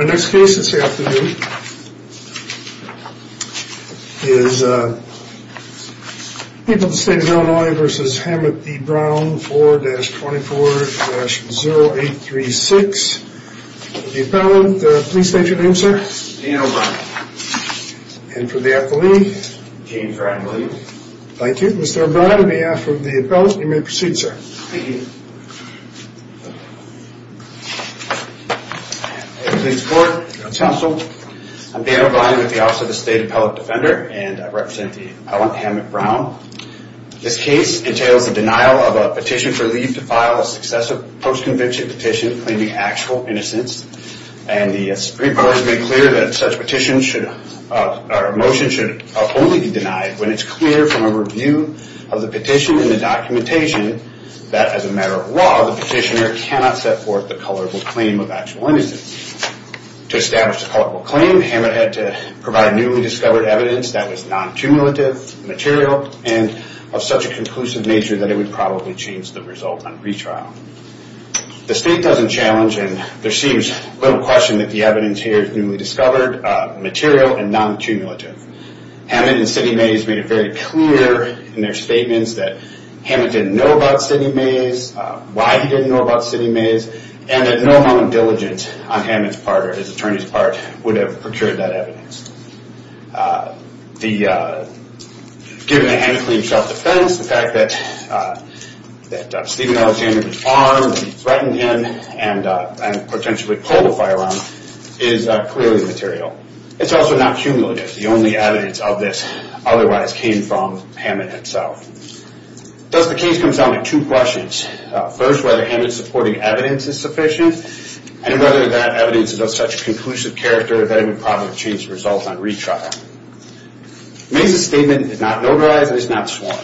Our next case this afternoon is People of the State of Illinois v. Hammett v. Brown 4-24-0836. The appellant, the police agent, name, sir? Dan O'Brien. And for the appellee? James Bradley. Thank you. Mr. O'Brien, on behalf of the appellant, you may proceed, sir. Thank you. I'm Dan O'Brien with the Office of the State Appellate Defender, and I represent the appellant Hammett Brown. This case entails the denial of a petition for leave to file a successive post-convention petition claiming actual innocence. And the Supreme Court has made clear that such a motion should only be denied when it's clear from a review of the petition and the matter of law the petitioner cannot set forth the colorable claim of actual innocence. To establish the colorable claim, Hammett had to provide newly discovered evidence that was non-cumulative, material, and of such a conclusive nature that it would probably change the result on retrial. The state doesn't challenge, and there seems little question that the evidence here is newly discovered, material, and non-cumulative. Hammett and Sidney Mays made it very clear in their statements that Hammett didn't know about Sidney Mays, why he didn't know about Sidney Mays, and that no amount of diligence on Hammett's part or his attorney's part would have procured that evidence. Given a hand-cleaned shelf defense, the fact that Stephen Alexander was armed and threatened him and potentially pulled a firearm is clearly material. It's also not cumulative. The only evidence of this otherwise came from Hammett himself. Thus the case comes down to two questions. First, whether Hammett's supporting evidence is sufficient, and whether that evidence is of such conclusive character that it would probably change the result on retrial. Mays' statement is not notarized and is not sworn,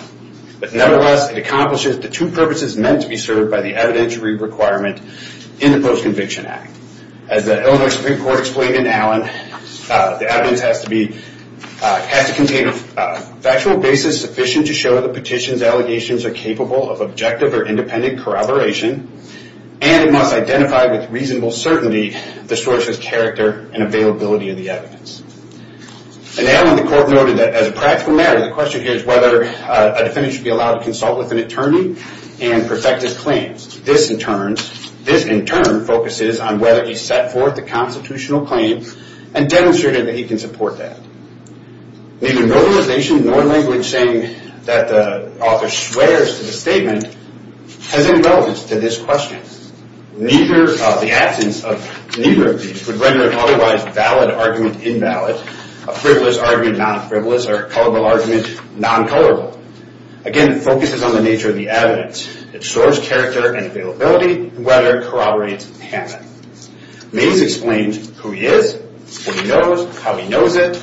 but nevertheless it accomplishes the two purposes meant to be served by the evidentiary requirement in the Post-Conviction Act. As the Illinois Supreme Court noted, the factual basis is sufficient to show that the petition's allegations are capable of objective or independent corroboration, and it must identify with reasonable certainty the source's character and availability of the evidence. Now the court noted that as a practical matter, the question here is whether a defendant should be allowed to consult with an attorney and perfect his claims. This in turn focuses on whether he set forth a constitutional claim and demonstrated that he can support that. Neither verbalization nor language saying that the author swears to the statement has any relevance to this question. The absence of neither of these would render an otherwise valid argument invalid, a frivolous argument non-frivolous, or a colorable argument non-colorable. Again, it focuses on the nature of the evidence, its source character and availability, and whether it corroborates the patent. Mays explains who he is, what he knows, how he knows it,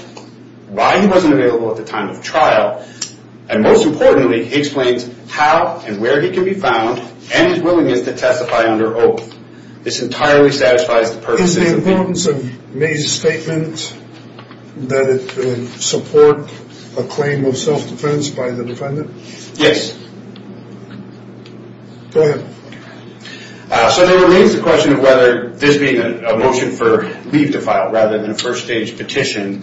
why he wasn't available at the time of trial, and most importantly, he explains how and where he can be found and his willingness to testify under oath. This entirely satisfies the purposes of the petition. Is the importance of Mays' statement that it support a claim of self-defense by the defendant? Yes. Go ahead. So there remains the question of whether this being a motion for leave to file rather than a first stage petition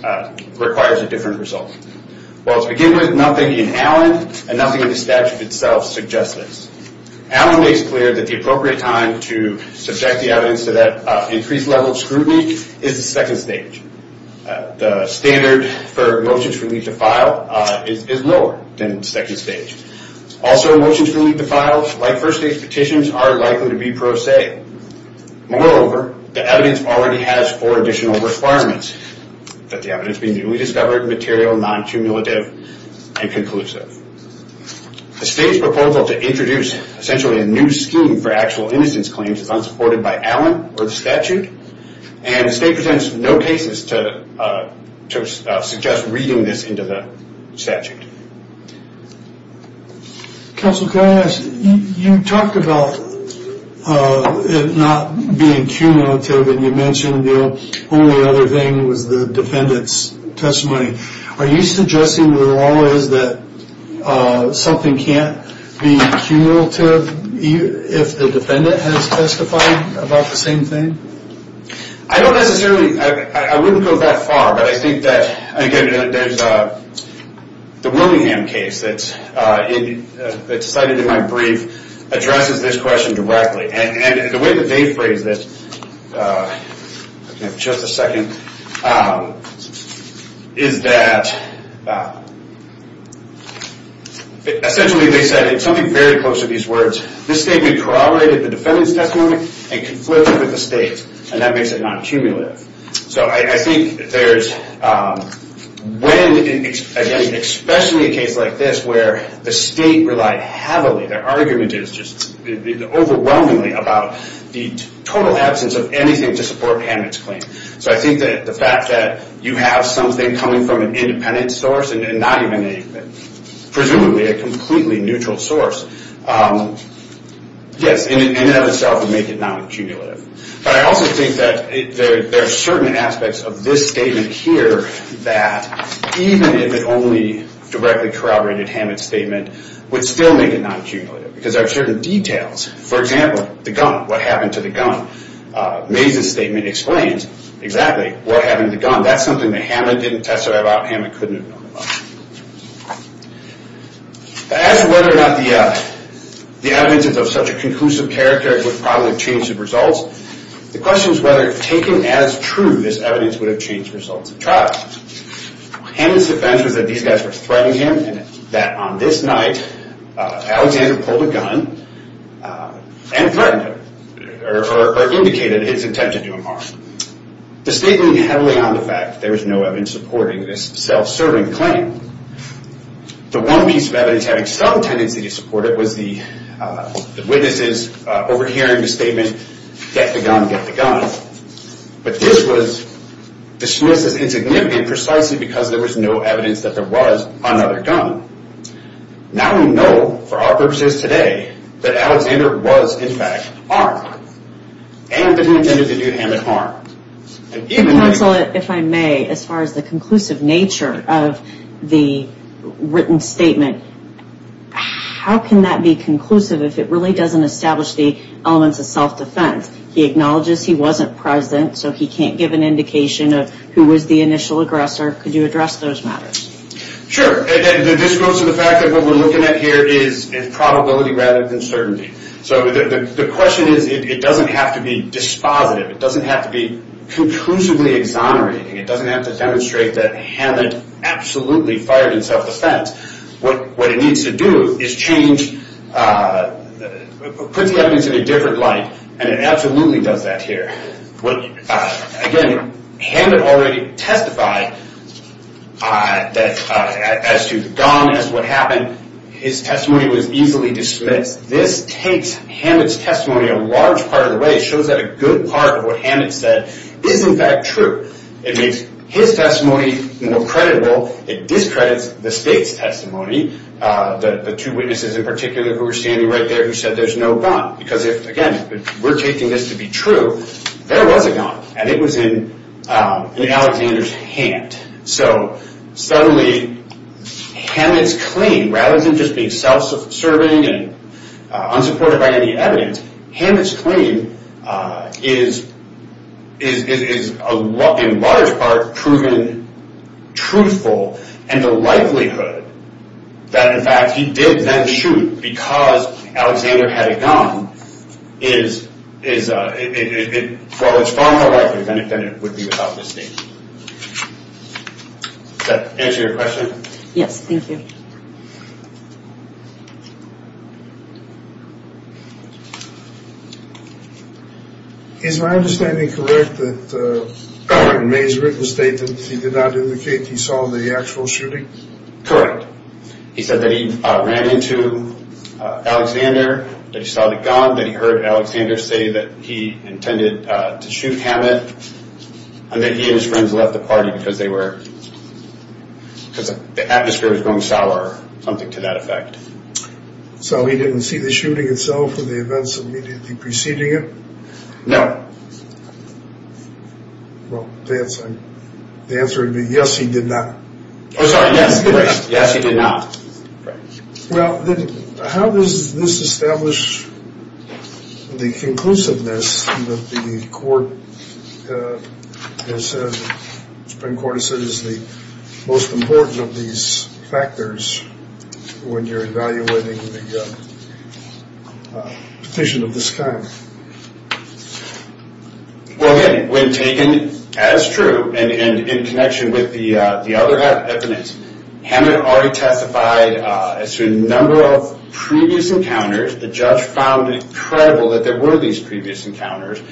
requires a different result. Well to begin with, nothing in Allen and nothing in the statute itself suggests this. Allen makes clear that the appropriate time to subject the evidence to that increased level of scrutiny is the second stage. The standard for motions for leave to file is lower than the second stage. Also, motions for leave to file, like first stage petitions, are likely to be pro se. Moreover, the evidence already has four additional requirements. That the evidence be newly discovered, material, non-cumulative, and conclusive. The state's proposal to introduce a new scheme for actual innocence claims is unsupported by Allen or the statute. The state presents no cases to suggest reading this into the statute. Counsel, can I ask, you talked about it not being cumulative and you mentioned the only other thing was the defendant's testimony. Something can't be cumulative if the defendant has testified about the same thing? I don't necessarily, I wouldn't go that far, but I think that, again, the Willingham case that's cited in my brief addresses this question directly. And the way that they phrase this, give me just a second, is that, the state's proposal to introduce a new scheme for innocence claims, essentially they said, something very close to these words, this statement corroborated the defendant's testimony and conflicted with the state and that makes it non-cumulative. So I think there's, when, again, especially a case like this where the state relied heavily, their argument is just overwhelmingly about the total absence of anything to support Hammett's claim. So I think that the fact that you have something coming from an independent source and not even a, presumably a completely neutral source, yes, in and of itself would make it non-cumulative. But I also think that there are certain aspects of this statement here that even if it only directly corroborated Hammett's statement would still make it non-cumulative because there are certain details. For example, the gun, what happened to the gun. Maze's statement explains exactly what happened to the gun. That's something that Hammett didn't testify about, Hammett couldn't have known about. As to whether or not the evidence is of such a conclusive character, it would probably change the results. The question is whether, taken as true, this evidence would have changed the results of trial. Hammett's defense was that these guys were threatening him and that on this night, Alexander pulled a gun and threatened him, or indicated his intention to do him harm. The statement is heavily on the fact that there is no evidence supporting this self-serving claim. The one piece of evidence having some tendency to support it was the witnesses overhearing the statement, get the gun, get the gun. But this was dismissed as insignificant precisely because there was no evidence that there was another gun. Now we know, for our purposes today, that Alexander was, in fact, harmed, and that he intended to do Hammett harm. Counsel, if I may, as far as the conclusive nature of the written statement, how can that be conclusive if it really doesn't establish the elements of self-defense? He acknowledges he wasn't present, so he can't give an indication of who was the initial aggressor. Could you address those matters? Sure. This goes to the fact that what we're looking at here is probability rather than certainty. So the question is, it doesn't have to be dispositive. It doesn't have to be conclusively exonerating. It doesn't have to demonstrate that Hammett absolutely fired in self-defense. What it needs to do is put the evidence in a different light, and it needs to demonstrate that as to the gun, as to what happened, his testimony was easily dismissed. This takes Hammett's testimony a large part of the way. It shows that a good part of what Hammett said is, in fact, true. It makes his testimony more credible. It discredits the state's testimony, the two witnesses in particular who were standing right there who said there's no gun. Because if, again, we're taking this to be true, there was a gun, and it was in Alexander's hand. So, suddenly, Hammett's claim, rather than just being self-serving and unsupported by any evidence, Hammett's claim is, in large part, proven truthful, and the likelihood that, in fact, he did then shoot because Alexander had a gun is far more likely than it would be without this statement. Does that answer your question? Yes, thank you. Is my understanding correct that in May's written statement, he did not indicate he saw the actual shooting? Correct. He said that he ran into Alexander, that he saw the gun, that he heard Alexander say that he intended to shoot Hammett, and that he and his friends left the party because they were, because the atmosphere was going sour, something to that effect. So he didn't see the shooting itself or the events immediately preceding it? No. Well, the answer would be, yes, he did not. Oh, sorry, yes, he did not. Well, then, how does this establish the conclusiveness that the Supreme Court has said is the most important of these factors when you're evaluating the petition of this kind? Well, again, when taken as true and in connection with the other evidence, Hammett already testified as to a number of previous encounters. The judge found it credible that there were these previous encounters.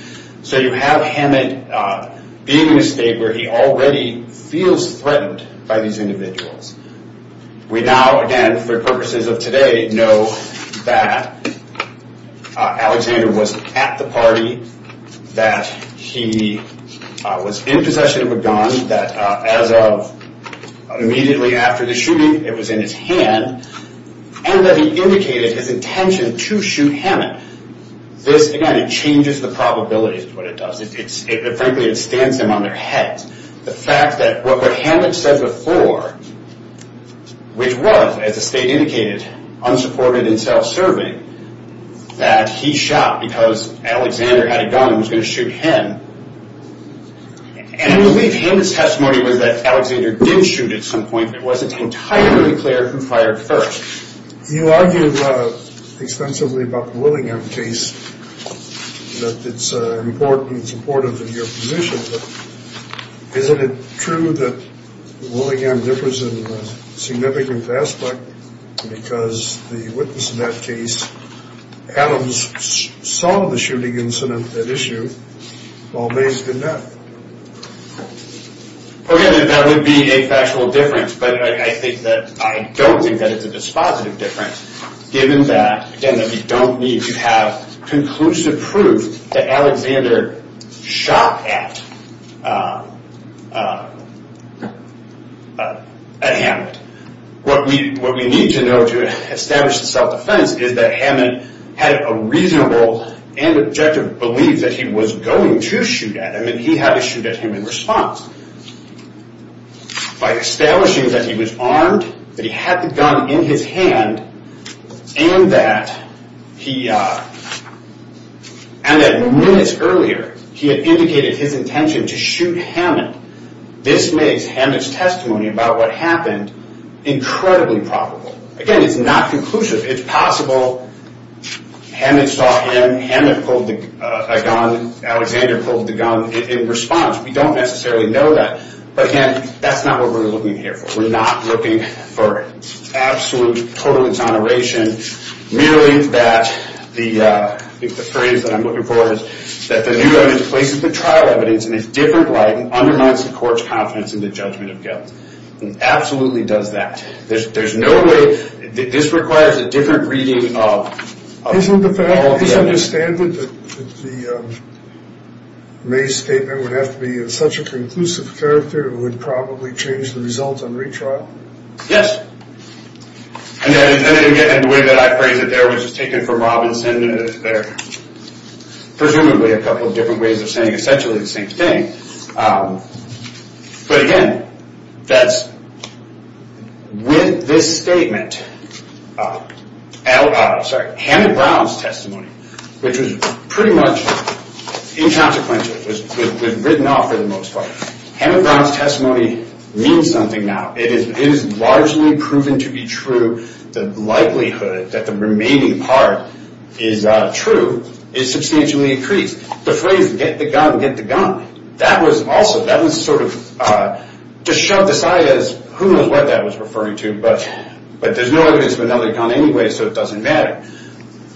So you have Hammett being in a state where he already feels threatened by these individuals. We now, again, for purposes of today, know that Alexander was at the party, that he was in possession of a gun, that as of immediately after the shooting, it was in his hand, and that he indicated his intention to shoot Hammett. This, again, it changes the probability of what it does. Frankly, it stands them on their heads. The fact that what Hammett said before, which was, as the state indicated, unsupported and self-serving, that he shot because Alexander had a gun and was going to shoot him, and I believe Hammett's testimony was that Alexander did shoot at some point, but it wasn't entirely clear who fired first. You argue extensively about the Willingham case, that it's important, it's important for your position, but isn't it true that Willingham differs in a significant aspect because the witness in that case, Adams, saw the shooting incident, that issue, while Mays did not? Okay, that would be a factual difference, but I think that, I don't think that it's a dispositive difference, given that, again, that we don't need to have conclusive proof that Alexander shot at Hammett. What we need to know to establish the self-defense is that Hammett had a reasonable and objective belief that he was going to shoot at him and he had to shoot at him in response. By establishing that he was armed, that he had the gun in his hand, and that he, and that minutes earlier, he had indicated his intention to shoot Hammett. This makes Hammett's testimony about what happened incredibly probable. Again, it's not conclusive. It's possible Hammett saw him, Hammett pulled a gun, Alexander pulled the gun in response. We don't necessarily know that, but again, that's not what we're looking here for. We're not looking for absolute, total exoneration, merely that the, I think the phrase that I'm looking for is, that the new evidence places the trial evidence in a different light and undermines the court's confidence in the judgment of guilt. It absolutely does that. There's no way, this requires a different reading of all the evidence. Isn't the fact, is it understandable that the Mays statement would have to be in such a conclusive character, it would probably change the results on retrial? Yes. And the way that I phrase it there, which is taken from Robinson, there are presumably a couple of different ways of saying essentially the same thing. But again, that's with this statement, Hammett Brown's testimony, which was pretty much inconsequential. It was written off for the most part. Hammett Brown's testimony means something now. It is largely proven to be true. The likelihood that the remaining part is true is substantially increased. The phrase, get the gun, get the gun, that was also, that was sort of just shoved aside as who knows what that was referring to, but there's no evidence of another gun anyway, so it doesn't matter.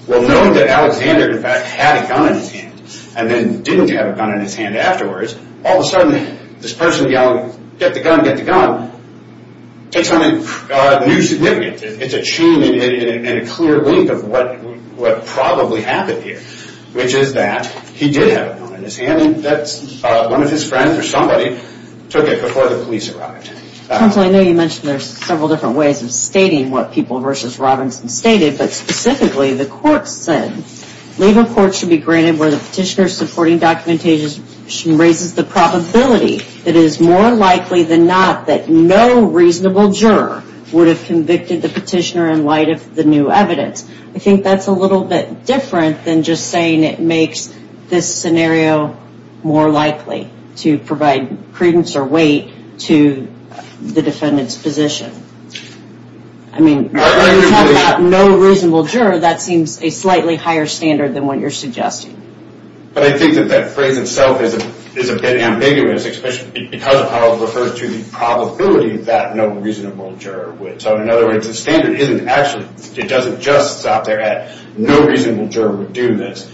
Well, knowing that Alexander in fact had a gun in his hand and then didn't have a gun in his hand afterwards, all of a sudden this person yelling, get the gun, get the gun, takes on a new significance. It's a tune and a clear link of what probably happened here, which is that he did have a gun in his hand and that's one of his friends or somebody took it before the police arrived. I know you mentioned there's several different ways of stating what people versus Robinson stated, but specifically the court said, labor court should be granted where the petitioner supporting documentation raises the probability that it is more likely than not that no reasonable juror would have convicted the petitioner in light of the new evidence. I think that's a little bit different than just saying it makes this scenario more likely to provide credence or weight to the defendant's position. I mean, when we talk about no reasonable juror, that seems a slightly higher standard than what you're suggesting. But I think that that phrase itself is a bit ambiguous, especially because it refers to the probability that no reasonable juror would. So in other words, the standard isn't actually, it doesn't just stop there at no reasonable juror would do this,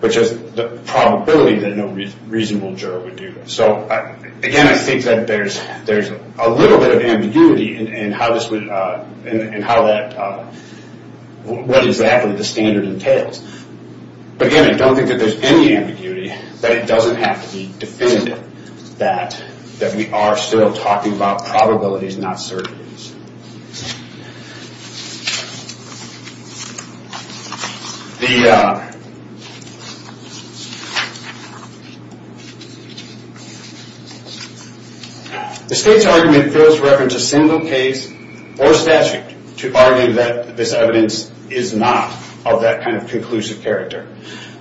but just the probability that no reasonable juror would do this. So again, I think that there's a little bit of ambiguity as to how that, what exactly the standard entails. But again, I don't think that there's any ambiguity, but it doesn't have to be definitive that we are still talking about probabilities, not certainties. The state's argument fails to reference a single case or statute to argue that this evidence is not of that kind of conclusive character.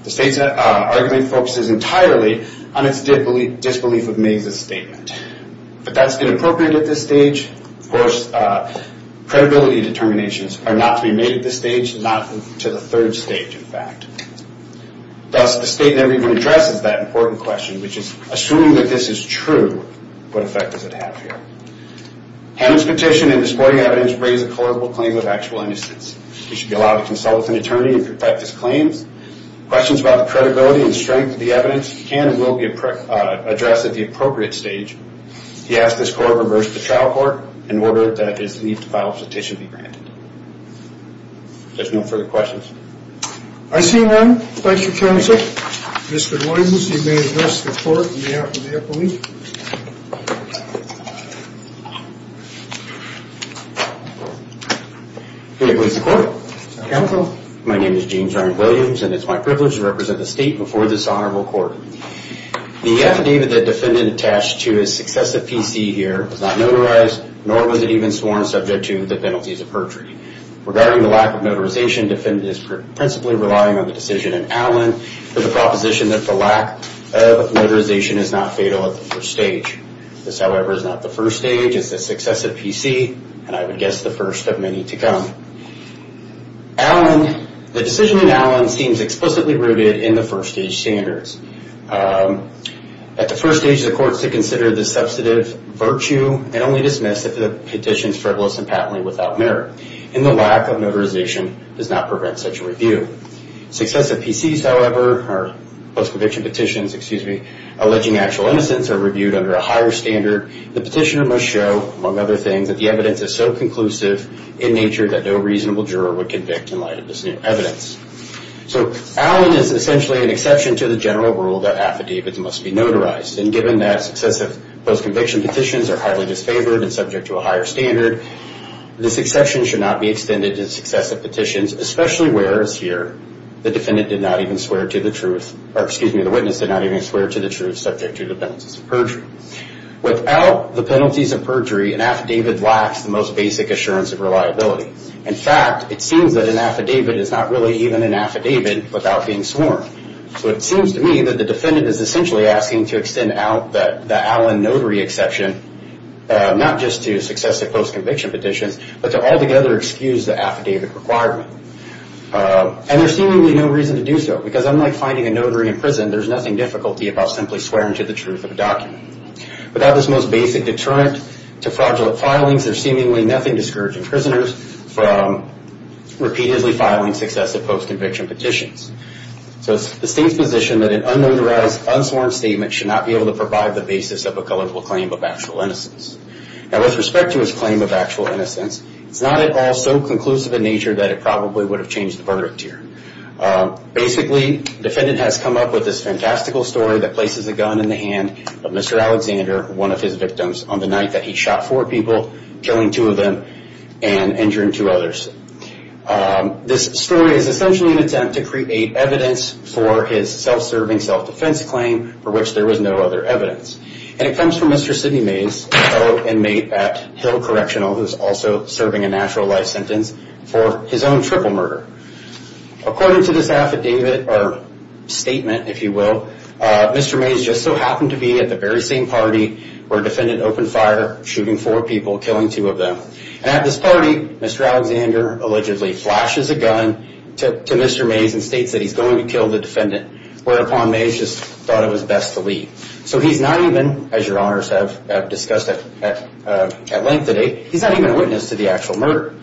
The state's argument focuses entirely on its disbelief of Mays' statement. But that's inappropriate at this stage. Of course, credibility determinations are not to be made at this stage, not to the third stage, in fact. Thus, the state never even addresses that important question, which is, assuming that this is true, what effect does it have here? Hammond's petition and the supporting evidence raise a colorable claim of actual innocence. He should be allowed to consult with an attorney and protect his claims. Questions about the credibility and strength of the evidence can and will be addressed at the appropriate stage. He asks this court to reverse the trial court in order that his need to file a petition be granted. If there's no further questions. I see none. Thank you, counsel. Mr. Williams, you may address the court on behalf of the appellee. May I please report? Counsel. My name is James Ryan Williams, and it's my privilege to represent the state in the state before this honorable court. The affidavit the defendant attached to his success at PC here was not notarized, nor was it even sworn subject to the penalties of perjury. Regarding the lack of notarization, defendant is principally relying on the decision in Allen for the proposition that the lack of notarization is not fatal at the first stage. This, however, is not the first stage. It's the success at PC, and I would guess the first of many to come. Allen, the decision in Allen seems explicitly rooted in the first stage standards. At the first stage, the court is to consider the substantive virtue and only dismiss if the petition is frivolous and patently without merit, and the lack of notarization does not prevent such a review. Success at PC, however, or post-conviction petitions, excuse me, alleging actual innocence are reviewed under a higher standard. The petitioner must show, among other things, that the evidence is so conclusive in nature that no reasonable juror would convict in light of this new evidence. So Allen is essentially an exception to the general rule that affidavits must be notarized, and given that successive post-conviction petitions are highly disfavored and subject to a higher standard, this exception should not be extended to successive petitions, especially where it's here the defendant did not even swear to the truth, or excuse me, the witness did not even swear to the truth subject to the penalties of perjury. Without the penalties of perjury, an affidavit lacks the most basic assurance of reliability. In fact, it seems that an affidavit is not really even an affidavit without being sworn. So it seems to me that the defendant is essentially asking to extend out the Allen notary exception, not just to successive post-conviction petitions, but to altogether excuse the affidavit requirement. And there's seemingly no reason to do so, because unlike finding a notary in prison, there's nothing difficult about simply swearing to the truth of a document. Without this most basic deterrent to fraudulent filings, there's seemingly nothing discouraging prisoners from repeatedly filing successive post-conviction petitions. So it's the state's position that an unauthorized, unsworn statement should not be able to provide the basis of a colloquial claim of actual innocence. Now with respect to his claim of actual innocence, it's not at all so conclusive in nature that it probably would have changed the verdict here. Basically, the defendant has come up with this fantastical story that places a gun in the hand of Mr. Alexander, one of his victims, on the night that he shot four people, killing two of them and injuring two others. This story is essentially an attempt to create evidence for his self-serving, self-defense claim for which there was no other evidence. And it comes from Mr. Sidney Mays, fellow inmate at Hill Correctional who is also serving a natural life sentence for his own triple murder. According to this affidavit or statement, if you will, Mr. Mays just so happened to be at the very same party where defendant opened fire, shooting four people, killing two of them. And at this party, Mr. Alexander allegedly flashes a gun to Mr. Mays and states that he's going to kill the defendant, whereupon Mays just thought it was best to leave. So he's not even, as your honors have discussed at length today, he's not even a witness to the actual murder.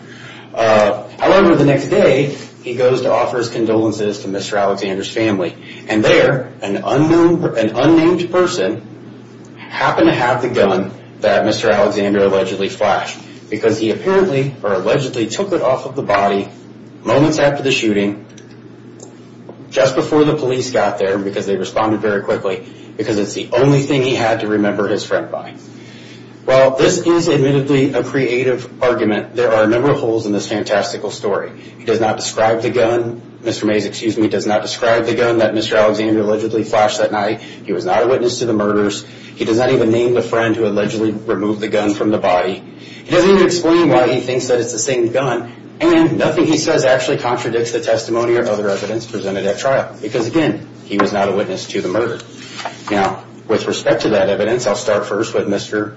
However, the next day, he goes to offer his condolences to Mr. Alexander's family. And there, an unnamed person happened to have the gun that Mr. Alexander allegedly flashed. Because he apparently or allegedly took it off of the body moments after the shooting, just before the police got there, because they responded very quickly, because it's the only thing he had to remember his friend by. While this is admittedly a creative argument, there are a number of holes in this fantastical story. He does not describe the gun, Mr. Mays, excuse me, does not describe the gun that Mr. Alexander allegedly flashed that night. He was not a witness to the murders. He does not even name the friend who allegedly removed the gun from the body. He doesn't even explain why he thinks that it's the same gun. And nothing he says actually contradicts the testimony or other evidence presented at trial. Because again, he was not a witness to the murder. Now, with respect to that evidence, I'll start first with Mr.,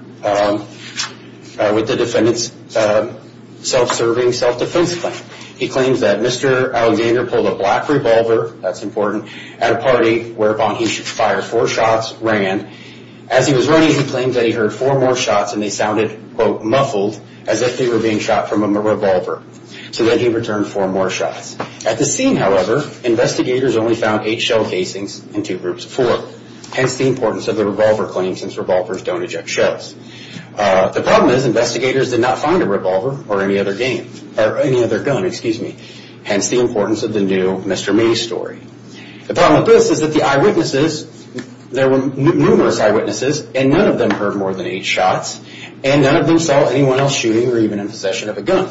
with the defendant's self-serving self-defense claim. He claims that Mr. Alexander pulled a black revolver, that's important, at a party whereupon he fired four shots, ran. As he was running, he claims that he heard four more shots and they sounded, quote, muffled, as if they were being shot from a revolver. So then he returned four more shots. At the scene, however, investigators only found eight shell casings and two groups of four. Hence the importance of the revolver claim since revolvers don't eject shells. The problem is investigators did not find a revolver or any other game, or any other gun, excuse me. Hence the importance of the new Mr. Mays story. The problem with this is that the eyewitnesses, there were numerous eyewitnesses and none of them heard more than eight shots and none of them saw anyone else shooting or even in possession of a gun.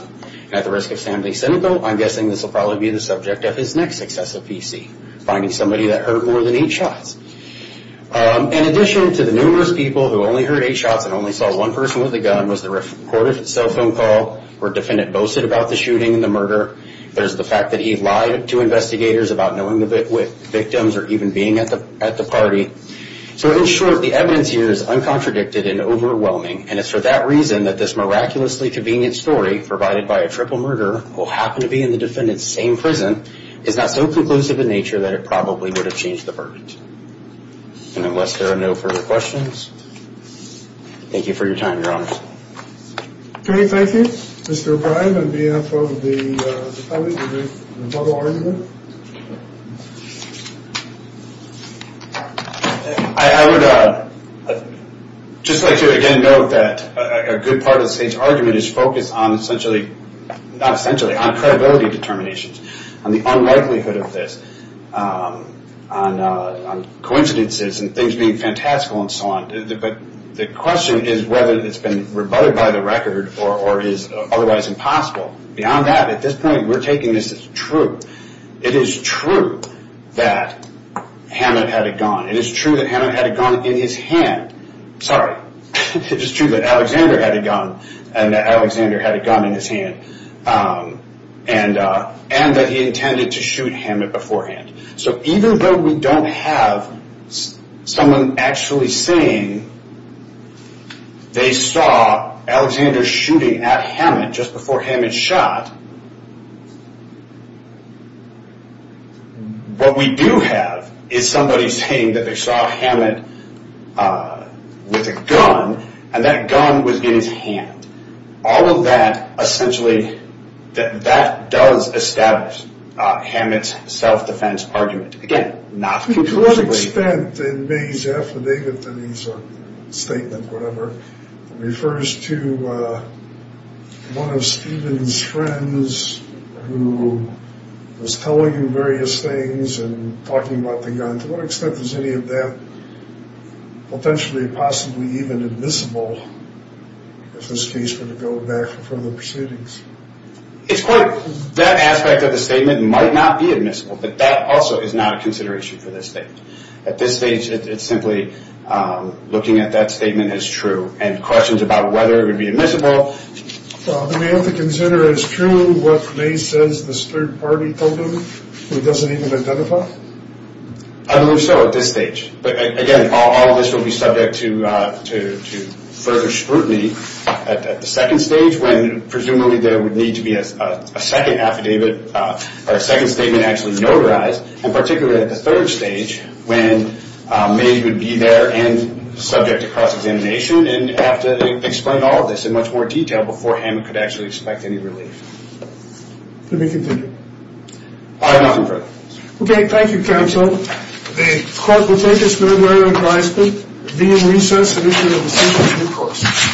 At the risk of sounding cynical, I'm guessing this will probably be the subject of his next successive PC, finding somebody that heard more than eight shots. In addition to the numerous people who only heard eight shots and only saw one person with a gun was the recorded cell phone call where a defendant boasted about the shooting and the murder. There's the fact that he lied to investigators about knowing the victims or even being at the party. So in short, the evidence here is uncontradicted and overwhelming and it's for that reason that this miraculously convenient story provided by a triple murderer who happened to be in the defendant's same prison is not so conclusive in nature that it probably would have changed the verdict. And unless there are no further questions, thank you for your time, Your Honor. Okay, thank you. Mr. O'Brien on behalf of the public, would you like to make a final argument? I would just like to again note that a good part of the state's argument is focused on essentially, not essentially, on credibility determinations, on the unlikelihood of this, on coincidences and things being fantastical and so on. But the question is whether it's been rebutted by the record or is otherwise impossible. Beyond that, at this point, we're taking this as true. It is true that Hammond had a gun. It is true that Hammond had a gun in his hand. Sorry. It is true that Alexander had a gun and that Alexander had a gun in his hand and that he intended to shoot Hammond beforehand. So even though we don't have someone actually saying they saw Alexander shooting at Hammond just before Hammond shot, what we do have is somebody saying that they saw Hammond with a gun and that gun was in his hand. All of that essentially, that does establish Hammond's self-defense argument. Again, not conclusively. To what extent in May's affidavit, statement, whatever, refers to one of Stephen's friends who was telling him various things and talking about the gun. To what extent is any of that potentially, possibly even admissible if this case were to go back for further proceedings? It's quite, that aspect of the statement might not be admissible, but that also is not a consideration for this statement. At this stage, it's simply looking at that statement as true and questions about whether it would be admissible. We have to consider as true what May says this third party told him who doesn't even identify? I believe so at this stage. But again, all of this will be subject to further scrutiny at the second stage when presumably there would need to be a second affidavit or a second statement actually notarized and particularly at the third stage when May would be there and subject to cross-examination and have to explain all of this in much more detail before Hammond could actually expect any relief. Let me continue. I am not in favor. Okay, thank you counsel. The court will take this memorandum until I speak. The meeting will recess and issue a decision in due course.